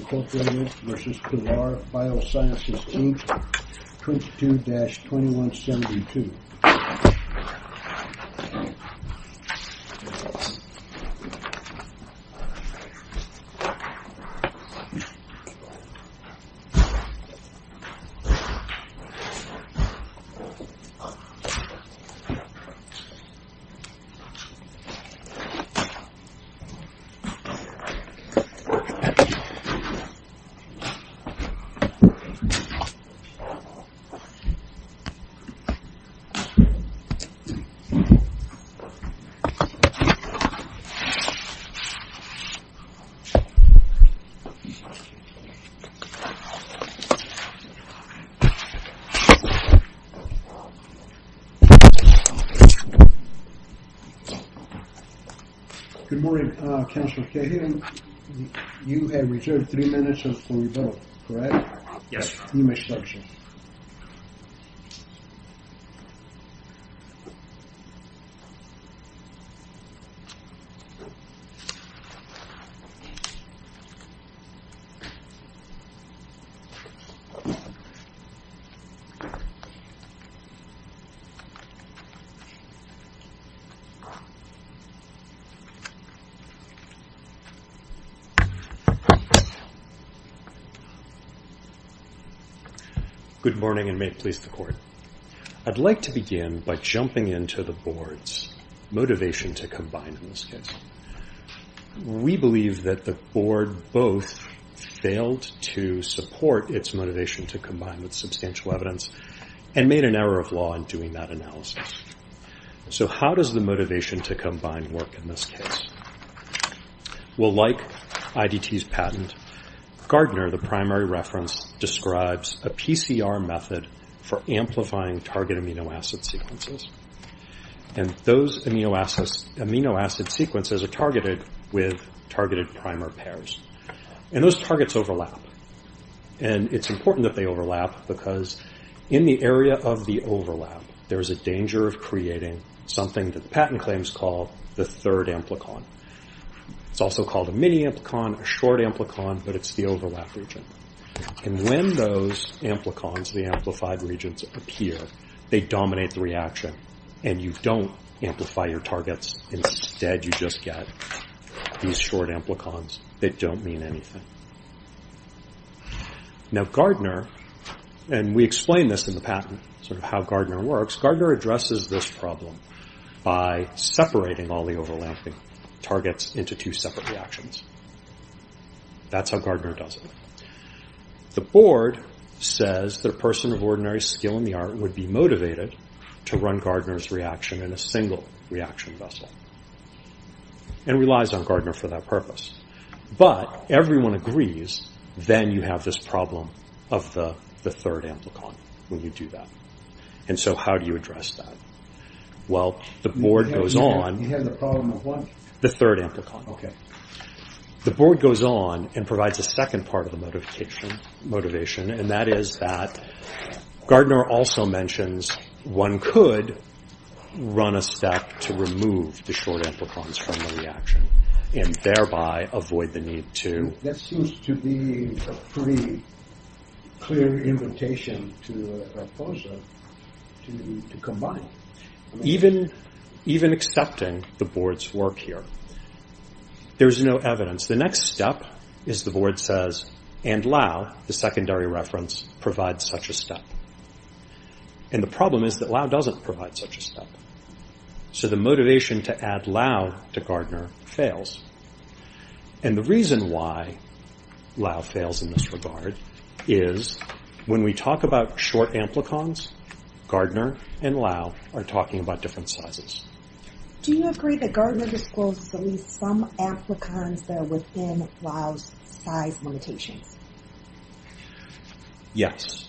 22-2172. Good morning, Councilor Cahill. You have reserved three minutes for your vote, correct? Yes. Good morning, and may it please the Court. I'd like to begin by jumping into the Board's motivation to combine in this case. We believe that the Board both failed to support its motivation to combine with substantial evidence and made an error of law in doing that analysis. So how does the motivation to combine work in this case? Well, like IDT's patent, Gardner, the primary reference, describes a PCR method for amplifying target amino acid sequences. And those amino acid sequences are targeted with targeted primer pairs. And those targets overlap. And it's important that they overlap because in the area of the overlap, there is a danger of creating something that the patent claims call the third amplicon. It's also called a mini-amplicon, a short amplicon, but it's the overlap region. And when those amplicons, the amplified regions, appear, they dominate the reaction. And you don't amplify your targets. Instead, you just get these short amplicons that don't mean anything. Now Gardner, and we explain this in the patent, sort of how Gardner works, Gardner addresses this problem by separating all the overlapping targets into two separate reactions. That's how Gardner does it. The Board says that a person of ordinary skill in the art would be motivated to run Gardner's reaction in a single reaction vessel. And relies on Gardner for that purpose. But everyone agrees, then you have this problem of the third amplicon when you do that. And so how do you address that? Well, the Board goes on. You have the problem of what? The third amplicon. Okay. The Board goes on and provides a second part of the motivation. And that is that Gardner also mentions one could run a step to remove the short amplicons from the reaction. And thereby avoid the need to. That seems to be a pretty clear invitation to a proposal to combine. Even accepting the Board's work here, there's no evidence. The next step is the Board says, and Lau, the secondary reference, provides such a step. And the problem is that Lau doesn't provide such a step. So the motivation to add Lau to Gardner fails. And the reason why Lau fails in this regard is when we talk about short amplicons, Gardner and Lau are talking about different sizes. Do you agree that Gardner discloses at least some amplicons that are within Lau's size limitations? Yes.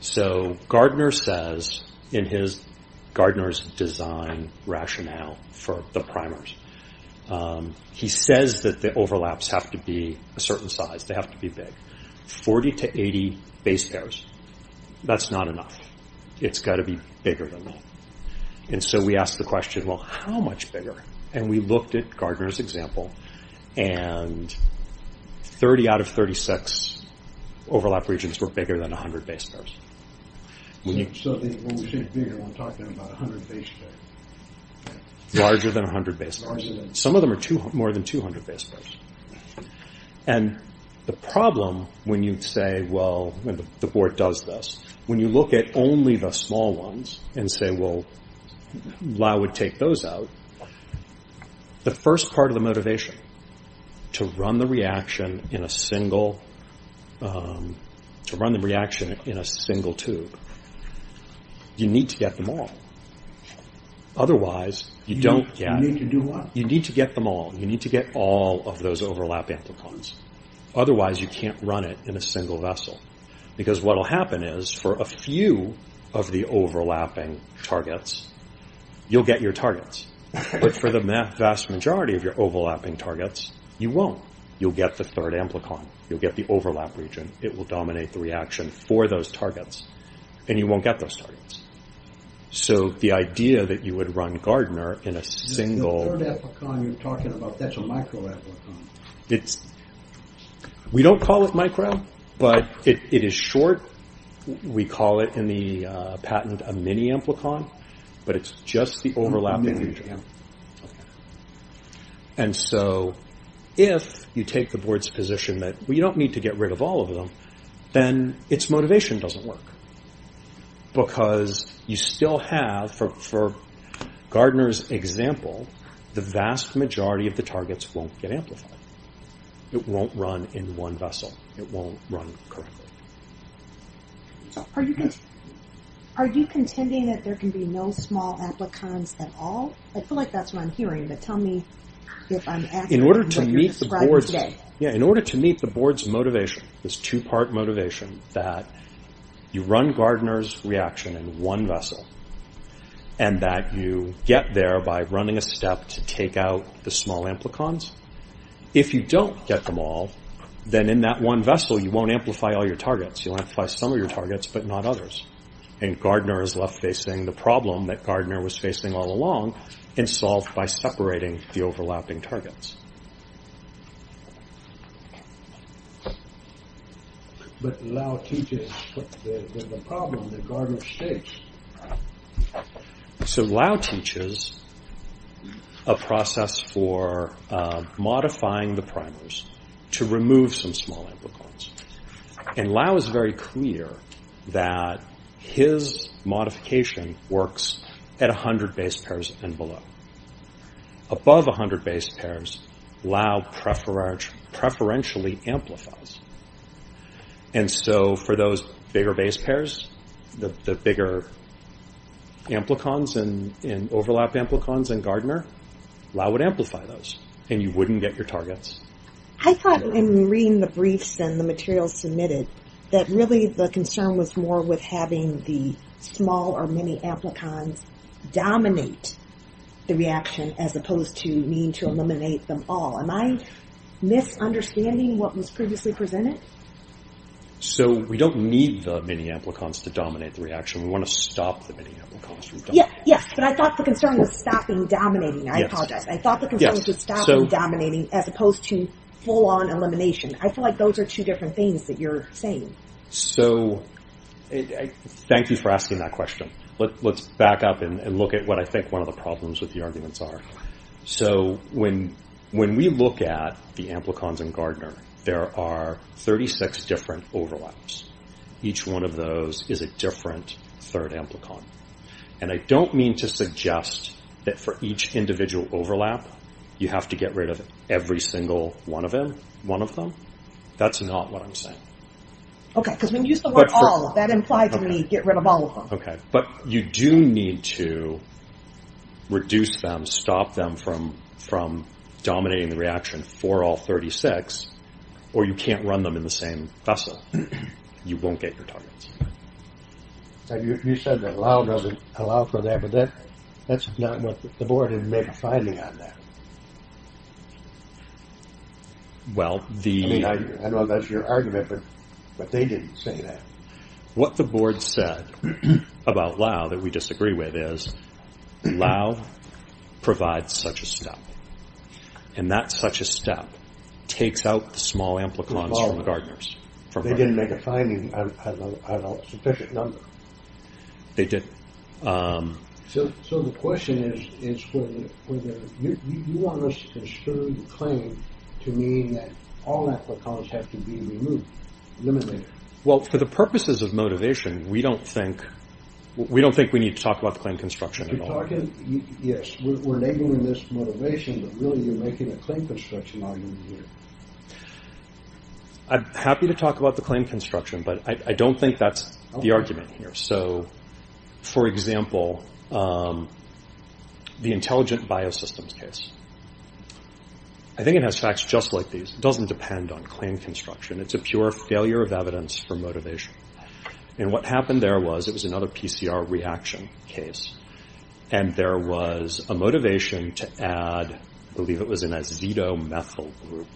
So Gardner says in his Gardner's design rationale for the primers, he says that the overlaps have to be a certain size. They have to be big. 40 to 80 base pairs. That's not enough. It's got to be bigger than that. And so we ask the question, well, how much bigger? And we looked at Gardner's example. And 30 out of 36 overlap regions were bigger than 100 base pairs. So when we say bigger, we're talking about 100 base pairs. Larger than 100 base pairs. Some of them are more than 200 base pairs. And the problem when you say, well, the Board does this, when you look at only the small ones and say, well, Lau would take those out, the first part of the motivation to run the reaction in a single tube, you need to get them all. Otherwise, you don't get it. You need to do what? You need to get them all. You need to get all of those overlap amplicons. Otherwise, you can't run it in a single vessel. Because what will happen is, for a few of the overlapping targets, you'll get your targets. But for the vast majority of your overlapping targets, you won't. You'll get the third amplicon. You'll get the overlap region. It will dominate the reaction for those targets. And you won't get those targets. So the idea that you would run Gardner in a single... The third amplicon you're talking about, that's a microamplicon. We don't call it micro, but it is short. We call it in the patent a mini-amplicon, but it's just the overlapping region. And so if you take the Board's position that we don't need to get rid of all of them, then its motivation doesn't work. Because you still have, for Gardner's example, the vast majority of the targets won't get amplified. It won't run in one vessel. It won't run correctly. Are you contending that there can be no small amplicons at all? I feel like that's what I'm hearing, but tell me if I'm asking what you're describing today. In order to meet the Board's motivation, this two-part motivation, that you run Gardner's reaction in one vessel, and that you get there by running a step to take out the small amplicons, if you don't get them all, then in that one vessel you won't amplify all your targets. You'll amplify some of your targets, but not others. And Gardner is left facing the problem that Gardner was facing all along, and solved by separating the overlapping targets. But Lau teaches the problem that Gardner faced. So Lau teaches a process for modifying the primers to remove some small amplicons. And Lau is very clear that his modification works at 100 base pairs and below. Above 100 base pairs, Lau preferentially amplifies. And so for those bigger base pairs, the bigger amplicons and overlap amplicons in Gardner, Lau would amplify those, and you wouldn't get your targets. I thought in reading the briefs and the materials submitted, that really the concern was more with having the small or many amplicons dominate the reaction, as opposed to needing to eliminate them all. Am I misunderstanding what was previously presented? So we don't need the many amplicons to dominate the reaction. We want to stop the many amplicons from dominating. Yes, but I thought the concern was stopping dominating. I apologize. I thought the concern was stopping dominating, as opposed to full-on elimination. I feel like those are two different things that you're saying. So thank you for asking that question. Let's back up and look at what I think one of the problems with the arguments are. So when we look at the amplicons in Gardner, there are 36 different overlaps. Each one of those is a different third amplicon. And I don't mean to suggest that for each individual overlap, you have to get rid of every single one of them. That's not what I'm saying. Okay, because when you used the word all, that implied to me get rid of all of them. Okay, but you do need to reduce them, stop them from dominating the reaction for all 36, or you can't run them in the same vessel. You won't get your targets. You said that Lau doesn't allow for that, but that's not what the board didn't make a finding on that. I know that's your argument, but they didn't say that. What the board said about Lau that we disagree with is Lau provides such a step, and that such a step takes out the small amplicons from the Gardners. They didn't make a finding on a sufficient number. They didn't. So the question is, you want us to construe the claim to mean that all amplicons have to be removed, eliminated. Well, for the purposes of motivation, we don't think we need to talk about the claim construction at all. Yes, we're enabling this motivation, but really you're making a claim construction argument here. I'm happy to talk about the claim construction, but I don't think that's the argument here. So, for example, the intelligent biosystems case, I think it has facts just like these. It doesn't depend on claim construction. It's a pure failure of evidence for motivation. And what happened there was it was another PCR reaction case, and there was a motivation to add, I believe it was an azetomethyl group,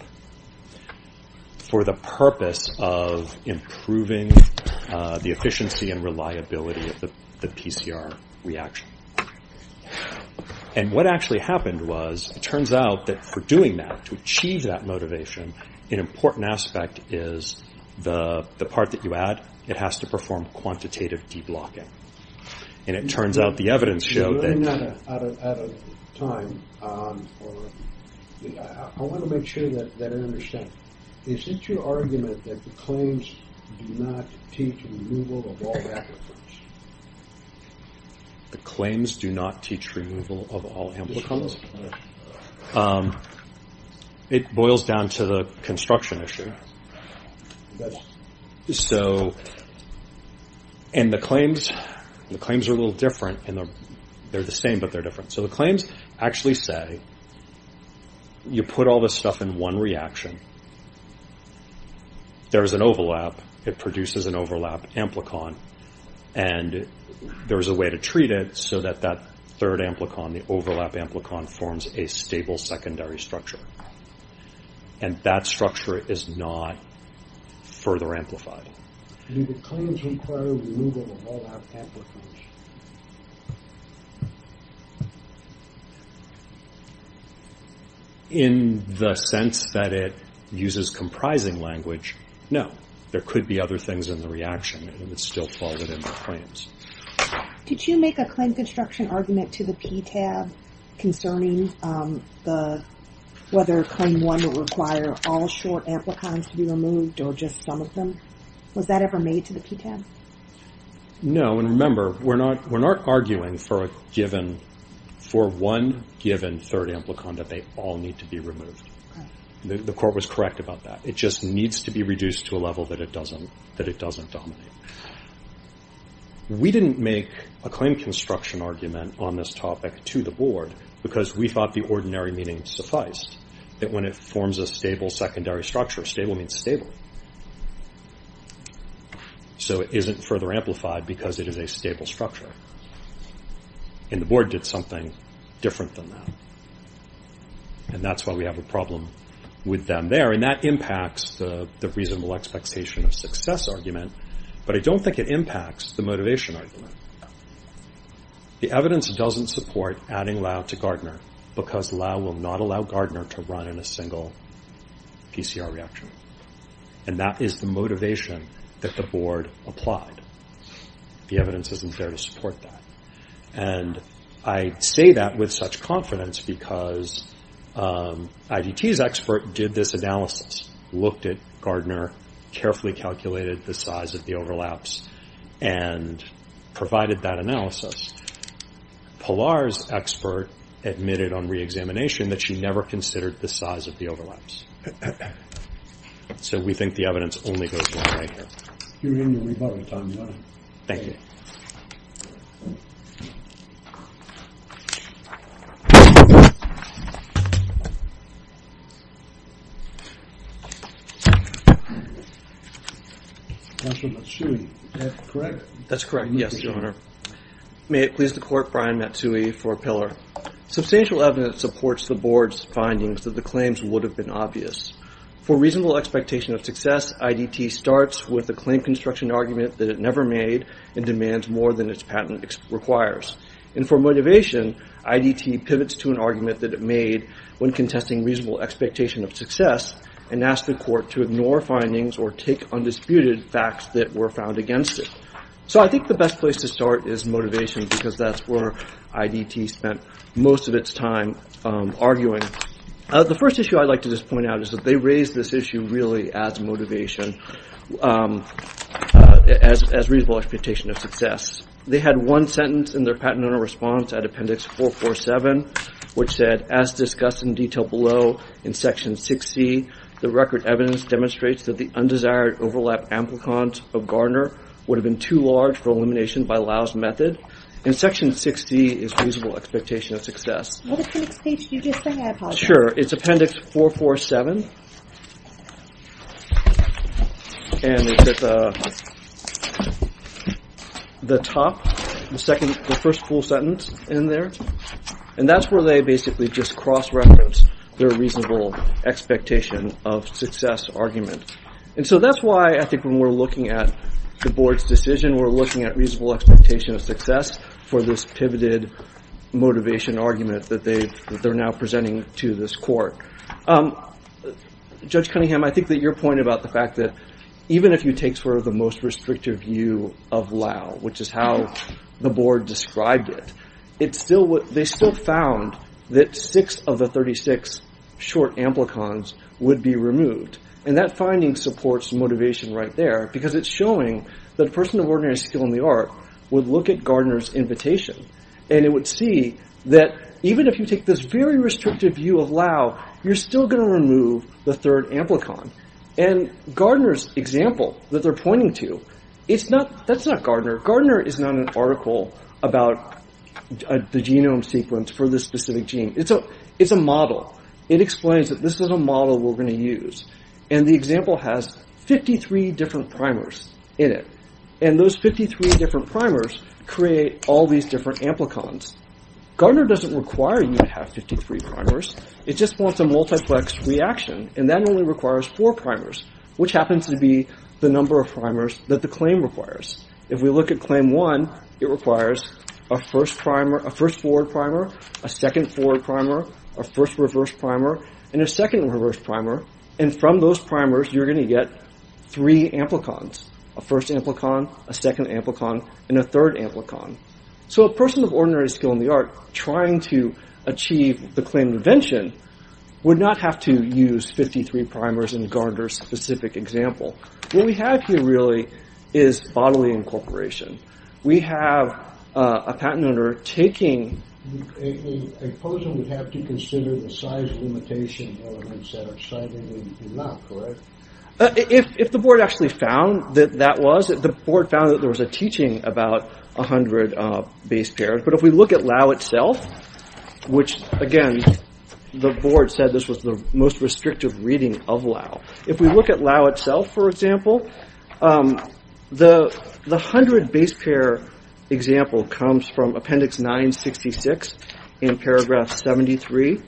for the purpose of improving the efficiency and reliability of the PCR reaction. And what actually happened was it turns out that for doing that, to achieve that motivation, an important aspect is the part that you add, it has to perform quantitative deblocking. And it turns out the evidence showed that… We're running out of time. I want to make sure that I understand. Is it your argument that the claims do not teach removal of all amplicons? The claims do not teach removal of all amplicons? It boils down to the construction issue. So, and the claims are a little different. They're the same, but they're different. So the claims actually say you put all this stuff in one reaction. There's an overlap. It produces an overlap amplicon. And there's a way to treat it so that that third amplicon, the overlap amplicon, forms a stable secondary structure. And that structure is not further amplified. Do the claims require removal of all amplicons? In the sense that it uses comprising language, no. There could be other things in the reaction, and it would still fall within the claims. Did you make a claim construction argument to the PTAB concerning whether Claim 1 would require all short amplicons to be removed or just some of them? Was that ever made to the PTAB? No, and remember, we're not arguing for one given third amplicon that they all need to be removed. The court was correct about that. It just needs to be reduced to a level that it doesn't dominate. We didn't make a claim construction argument on this topic to the board because we thought the ordinary meaning sufficed. That when it forms a stable secondary structure, stable means stable. So it isn't further amplified because it is a stable structure. And the board did something different than that. And that's why we have a problem with them there. And that impacts the reasonable expectation of success argument. But I don't think it impacts the motivation argument. The evidence doesn't support adding Lau to Gardner because Lau will not allow Gardner to run in a single PCR reaction. And that is the motivation that the board applied. The evidence isn't there to support that. And I say that with such confidence because IDT's expert did this analysis, looked at Gardner, carefully calculated the size of the overlaps, and provided that analysis. Pilar's expert admitted on reexamination that she never considered the size of the overlaps. So we think the evidence only goes one way here. You're in your rebuttal time, Your Honor. Thank you. Mr. Matsui, is that correct? That's correct, yes, Your Honor. May it please the court, Brian Matsui for Pilar. Substantial evidence supports the board's findings that the claims would have been obvious. For reasonable expectation of success, IDT starts with a claim construction argument that it never made and demands more than its patent requires. And for motivation, IDT pivots to an argument that it made when contesting reasonable expectation of success and asks the court to ignore findings or take undisputed facts that were found against it. So I think the best place to start is motivation because that's where IDT spent most of its time arguing. The first issue I'd like to just point out is that they raised this issue really as motivation, as reasonable expectation of success. They had one sentence in their patent owner response at Appendix 447, which said, as discussed in detail below in Section 60, the record evidence demonstrates that the undesired overlap amplicons of Garner would have been too large for elimination by Lau's method. And Section 60 is reasonable expectation of success. Sure. It's Appendix 447. And it's at the top, the first full sentence in there. And that's where they basically just cross-reference their reasonable expectation of success argument. And so that's why I think when we're looking at the board's decision, we're looking at reasonable expectation of success for this pivoted motivation argument that they're now presenting to this court. Judge Cunningham, I think that your point about the fact that even if you take sort of the most restrictive view of Lau, which is how the board described it, they still found that six of the 36 short amplicons would be removed. And that finding supports motivation right there because it's showing that a person of ordinary skill in the art would look at Garner's invitation and it would see that even if you take this very restrictive view of Lau, you're still going to remove the third amplicon. And Garner's example that they're pointing to, that's not Garner. Garner is not an article about the genome sequence for this specific gene. It's a model. It explains that this is a model we're going to use. And the example has 53 different primers in it. And those 53 different primers create all these different amplicons. Garner doesn't require you to have 53 primers. It just wants a multiplex reaction. And that only requires four primers, which happens to be the number of primers that the claim requires. If we look at claim one, it requires a first forward primer, a second forward primer, a first reverse primer, and a second reverse primer. And from those primers, you're going to get three amplicons. A first amplicon, a second amplicon, and a third amplicon. So a person of ordinary skill in the art trying to achieve the claim of invention would not have to use 53 primers in Garner's specific example. What we have here really is bodily incorporation. We have a patent owner taking... A person would have to consider the size limitation elements that are cited in Lau, correct? If the board actually found that that was, the board found that there was a teaching about 100 base pairs. But if we look at Lau itself, which, again, the board said this was the most restrictive reading of Lau. If we look at Lau itself, for example, the 100 base pair example comes from appendix 966 in paragraph 73.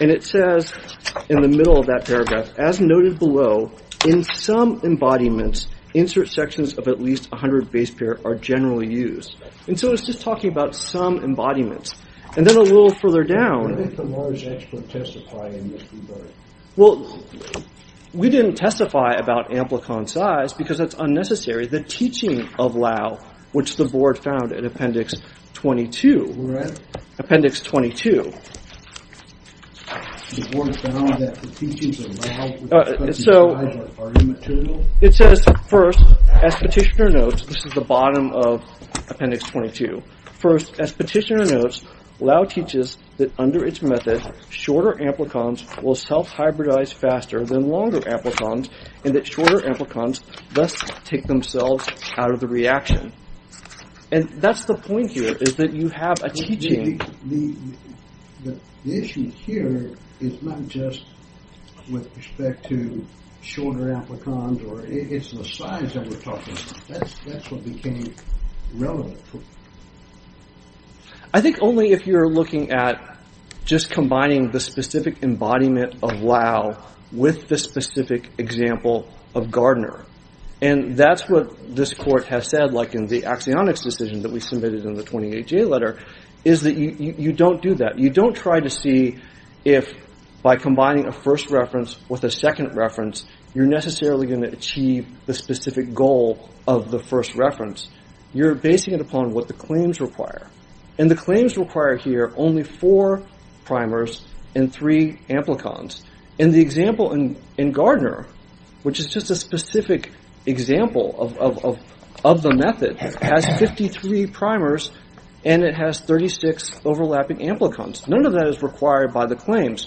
And it says in the middle of that paragraph, as noted below, in some embodiments, insert sections of at least 100 base pair are generally used. And so it's just talking about some embodiments. And then a little further down... What did the large expert testify in this regard? Well, we didn't testify about amplicon size because that's unnecessary. The teaching of Lau, which the board found in appendix 22. Appendix 22. It says, first, as petitioner notes, this is the bottom of appendix 22. First, as petitioner notes, Lau teaches that under its method, shorter amplicons will self-hybridize faster than longer amplicons, and that shorter amplicons thus take themselves out of the reaction. And that's the point here, is that you have a teaching... I think only if you're looking at just combining the specific embodiment of Lau with the specific example of Gardner. And that's what this court has said, like in the axionics decision that we submitted in the 28-J letter, is that you don't do that. You don't try to see if, by combining a first reference with a second reference, you're necessarily going to achieve the specific goal of the first reference. You're basing it upon what the claims require. And the claims require here only four primers and three amplicons. And the example in Gardner, which is just a specific example of the method, has 53 primers and it has 36 overlapping amplicons. None of that is required by the claims.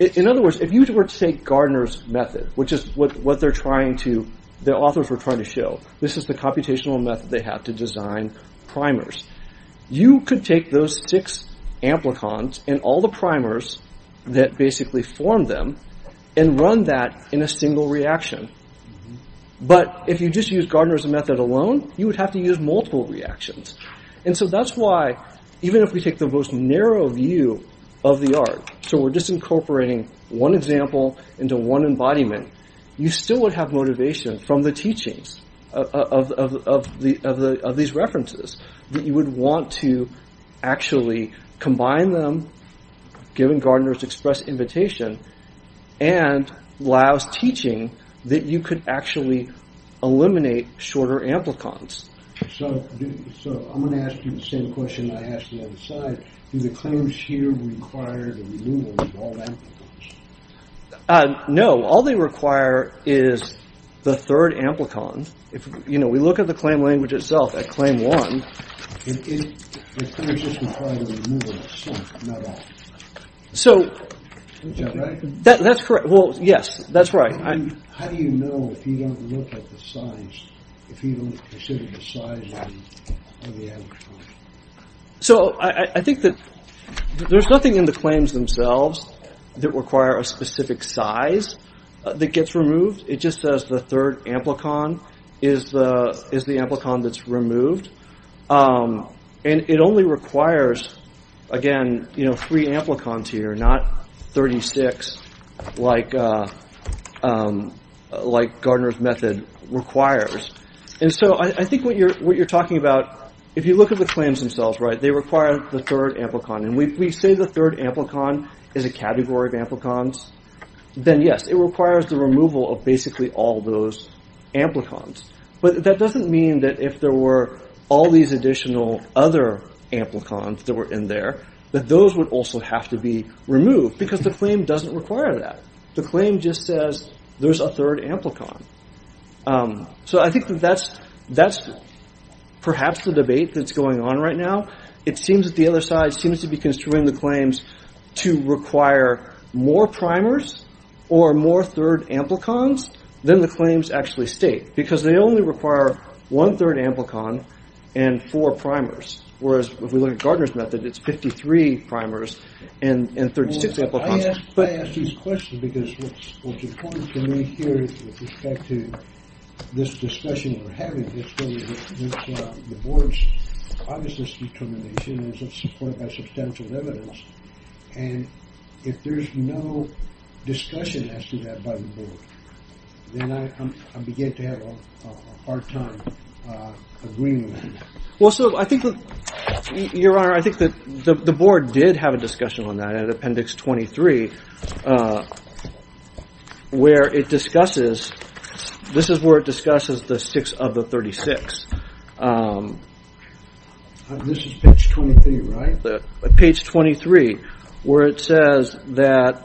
In other words, if you were to take Gardner's method, which is what the authors were trying to show, this is the computational method they have to design primers. You could take those six amplicons and all the primers that basically form them and run that in a single reaction. But if you just use Gardner's method alone, you would have to use multiple reactions. And so that's why, even if we take the most narrow view of the art, so we're just incorporating one example into one embodiment, you still would have motivation from the teachings of these references that you would want to actually combine them, given Gardner's express invitation, and Lau's teaching that you could actually eliminate shorter amplicons. So I'm going to ask you the same question I asked the other side. Do the claims here require the removal of all amplicons? No. All they require is the third amplicon. We look at the claim language itself at claim one. It just requires the removal of some, not all. That's correct. How do you know if you don't look at the size, if you don't consider the size of the amplicon? So I think that there's nothing in the claims themselves that require a specific size that gets removed. It just says the third amplicon is the amplicon that's removed. And it only requires, again, three amplicons here, not 36 like Gardner's method requires. And so I think what you're talking about, if you look at the claims themselves, they require the third amplicon. And we say the third amplicon is a category of amplicons, then yes, it requires the removal of basically all those amplicons. But that doesn't mean that if there were all these additional other amplicons that were in there, that those would also have to be removed because the claim doesn't require that. The claim just says there's a third amplicon. So I think that that's perhaps the debate that's going on right now. to require more primers or more third amplicons than the claims actually state because they only require one third amplicon and four primers. Whereas if we look at Gardner's method, it's 53 primers and 36 amplicons. I ask these questions because what's important to me here with respect to this discussion we're having, the board's obviousness determination is supported by substantial evidence and if there's no discussion as to that by the board, then I begin to have a hard time agreeing with that. Well, so I think that, Your Honor, I think that the board did have a discussion on that at appendix 23 where it discusses, this is where it discusses the six of the 36. This is page 23, right? Page 23 where it says that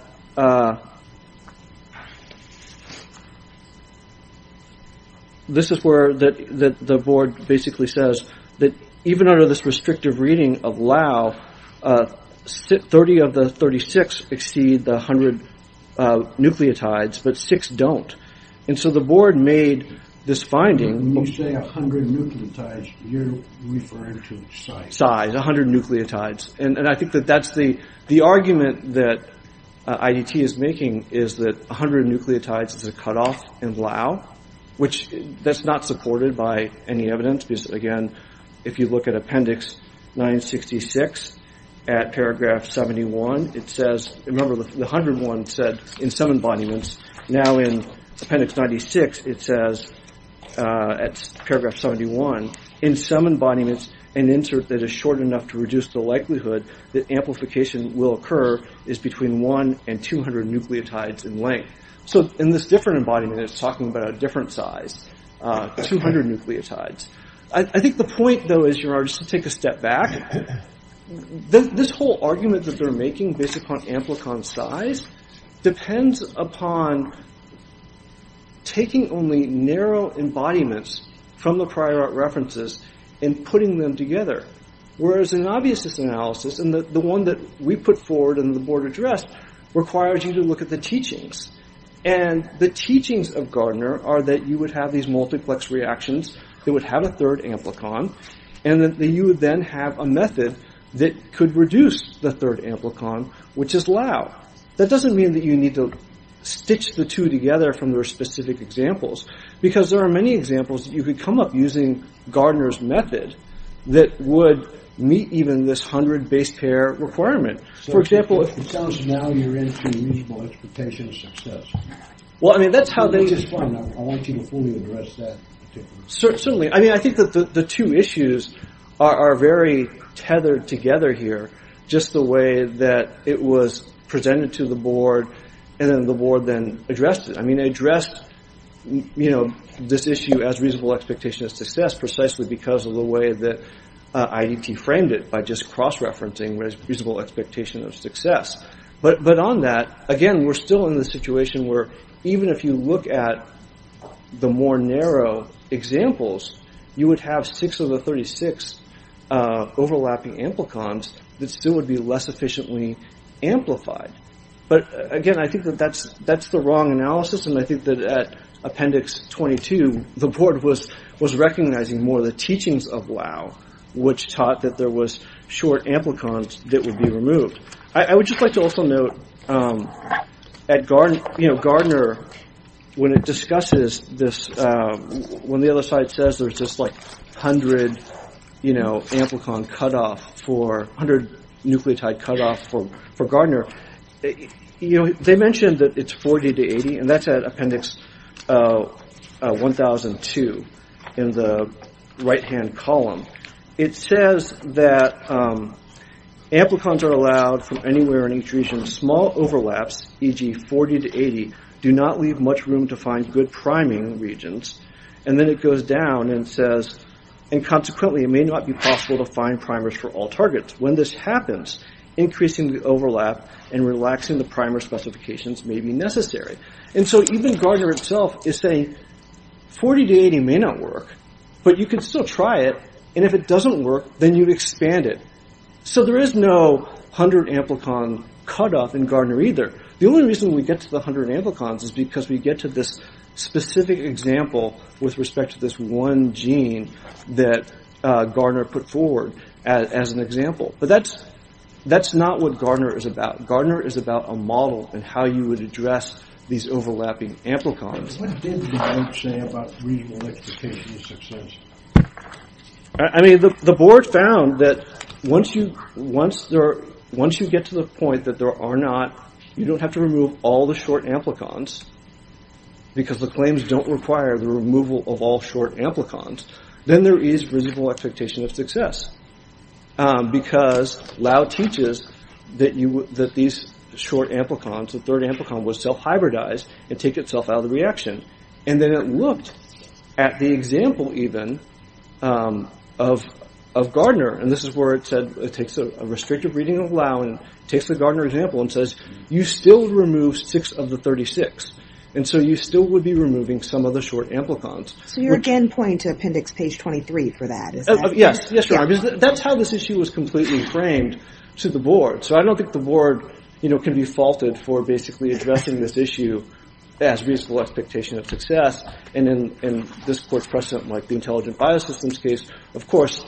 this is where the board basically says that even under this restrictive reading of Lau, 30 of the 36 exceed the 100 nucleotides, but six don't. And so the board made this finding. When you say 100 nucleotides, you're referring to size. 100 nucleotides. And I think that that's the argument that IDT is making is that 100 nucleotides is a cutoff in Lau, which that's not supported by any evidence because, again, if you look at appendix 966 at paragraph 71, it says, remember the 101 said in some embodiments. Now in appendix 96 it says, at paragraph 71, in some embodiments an insert that is short enough to reduce the likelihood that amplification will occur is between 1 and 200 nucleotides in length. So in this different embodiment it's talking about a different size, 200 nucleotides. I think the point, though, is, Your Honor, just to take a step back, this whole argument that they're making based upon amplicon size depends upon taking only narrow embodiments from the prior art references and putting them together. Whereas in obviousness analysis, and the one that we put forward and the board addressed, requires you to look at the teachings. And the teachings of Gardner are that you would have these multiplex reactions, they would have a third amplicon, and that you would then have a method that could reduce the third amplicon, which is Lau. Now, that doesn't mean that you need to stitch the two together from their specific examples, because there are many examples that you could come up using Gardner's method that would meet even this 100 base pair requirement. For example, if it sounds now you're in for a reasonable expectation of success. Well, I mean, that's how they just find out. I want you to fully address that. Certainly. I mean, I think that the two issues are very tethered together here, just the way that it was presented to the board, and then the board then addressed it. I mean, they addressed this issue as reasonable expectation of success precisely because of the way that IDT framed it, by just cross-referencing reasonable expectation of success. But on that, again, we're still in the situation where even if you look at the more narrow examples, you would have 6 of the 36 overlapping amplicons that still would be less efficiently amplified. But, again, I think that that's the wrong analysis, and I think that at Appendix 22, the board was recognizing more the teachings of Lau, which taught that there was short amplicons that would be removed. I would just like to also note at Gardner, when it discusses this, when the other side says there's just like 100 nucleotide cutoff for Gardner, they mentioned that it's 40 to 80, and that's at Appendix 1002 in the right-hand column. It says that amplicons are allowed from anywhere in each region. Small overlaps, e.g., 40 to 80, do not leave much room to find good priming regions. And then it goes down and says, and consequently it may not be possible to find primers for all targets. When this happens, increasing the overlap and relaxing the primer specifications may be necessary. And so even Gardner itself is saying, 40 to 80 may not work, but you can still try it, and if it doesn't work, then you'd expand it. So there is no 100-amplicon cutoff in Gardner either. The only reason we get to the 100 amplicons is because we get to this specific example with respect to this one gene that Gardner put forward as an example. But that's not what Gardner is about. Gardner is about a model and how you would address these overlapping amplicons. What did the board say about reasonable expectations of success? The board found that once you get to the point that there are not, you don't have to remove all the short amplicons, because the claims don't require the removal of all short amplicons, then there is reasonable expectation of success. Because Lau teaches that these short amplicons, the third amplicon was self-hybridized and take itself out of the reaction. And then it looked at the example even of Gardner, and this is where it takes a restrictive reading of Lau and takes the Gardner example and says, you still remove six of the 36, and so you still would be removing some of the short amplicons. So you're again pointing to appendix page 23 for that. Yes, that's how this issue was completely framed to the board. So I don't think the board can be faulted for basically addressing this issue as reasonable expectations of success. And in this court precedent, like the Intelligent Biosystems case, of course,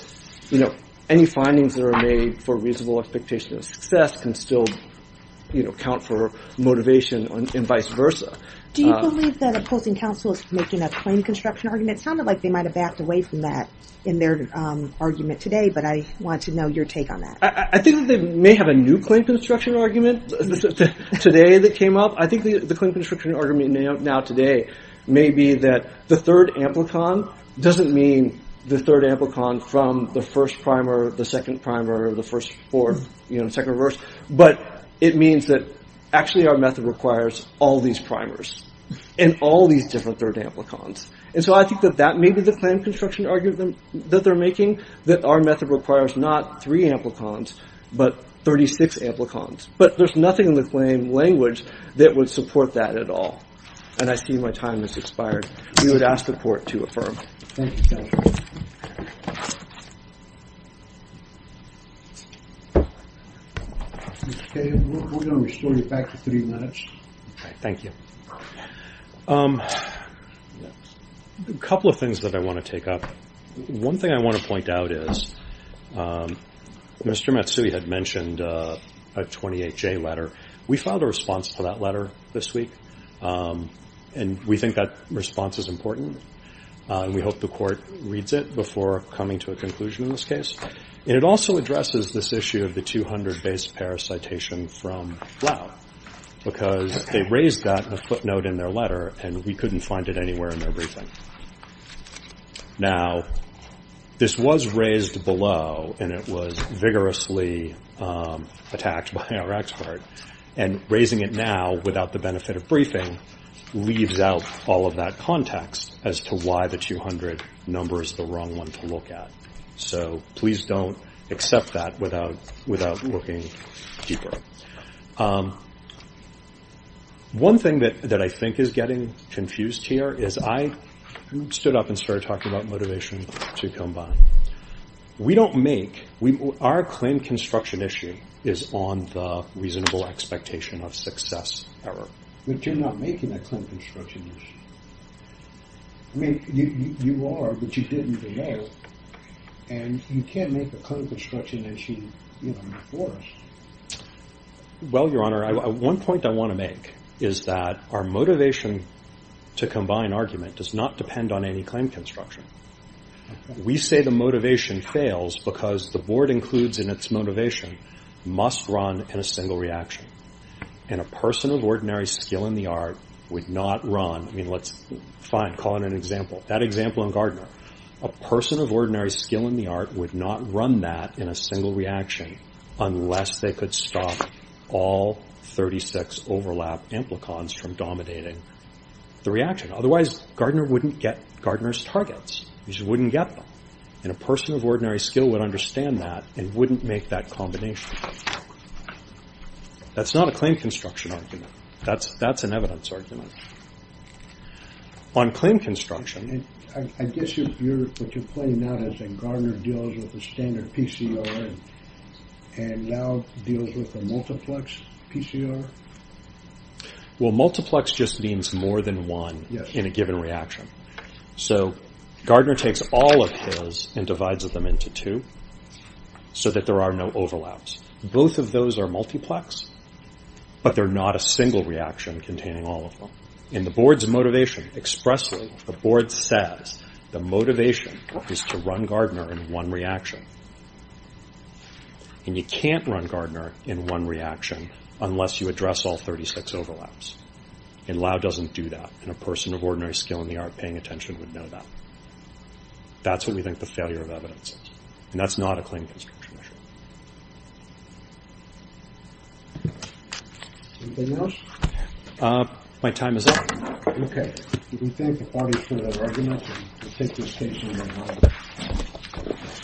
any findings that are made for reasonable expectation of success can still count for motivation and vice versa. Do you believe that opposing counsel is making a claim construction argument? It sounded like they might have backed away from that in their argument today, but I want to know your take on that. I think that they may have a new claim construction argument today that came up. I think the claim construction argument now today may be that the third amplicon doesn't mean the third amplicon from the first primer, the second primer, the first fourth, second reverse, but it means that actually our method requires all these primers and all these different third amplicons. And so I think that that may be the claim construction argument that they're making, that our method requires not three amplicons, but 36 amplicons. But there's nothing in the claim language that would support that at all. And I see my time has expired. We would ask the court to affirm. Thank you, counsel. Mr. Kagan, we're going to restore you back to three minutes. Thank you. A couple of things that I want to take up. One thing I want to point out is that Mr. Matsui had mentioned a 28J letter. We filed a response to that letter this week and we think that response is important and we hope the court reads it before coming to a conclusion in this case. And it also addresses this issue of the 200 base pair citation from Lau because they raised that footnote in their letter and we couldn't find it anywhere in their briefing. Now, this was raised below and it was vigorously attacked by our expert and raising it now without the benefit of briefing leaves out all of that context as to why the 200 number is the wrong one to look at. So please don't accept that without looking deeper. One thing that I think is getting confused here is I stood up and started talking about motivation to combine. Our claim construction issue is on the reasonable expectation of success error. But you're not making a claim construction issue. I mean, you are, but you didn't know and you can't make a claim construction issue before us. Well, Your Honor, one point I want to make is that our motivation to combine argument does not depend on any claim construction. We say the motivation fails because the board includes in its motivation must run in a single reaction. And a person of ordinary skill in the art would not run I mean, fine, call it an example. That example in Gardner. A person of ordinary skill in the art would not run that in a single reaction unless they could stop all 36 overlap amplicons from dominating the reaction. Otherwise, Gardner wouldn't get Gardner's targets. He just wouldn't get them. And a person of ordinary skill would understand that and wouldn't make that combination. That's not a claim construction argument. That's an evidence argument. On claim construction... I guess what you're pointing out is that Gardner deals with a standard PCR and now deals with a multiplex PCR? Well, multiplex just means more than one in a given reaction. So Gardner takes all of his and divides them into two so that there are no overlaps. Both of those are multiplex, but they're not a single reaction containing all of them. In the board's motivation expressly, the board says the motivation is to run Gardner in one reaction. And you can't run Gardner in one reaction unless you address all 36 overlaps. And Lau doesn't do that. And a person of ordinary skill in the art of paying attention would know that. That's what we think the failure of evidence is. And that's not a claim construction issue. Anything else? My time is up. Okay. We thank the parties for their arguments. And we'll take this case to the House.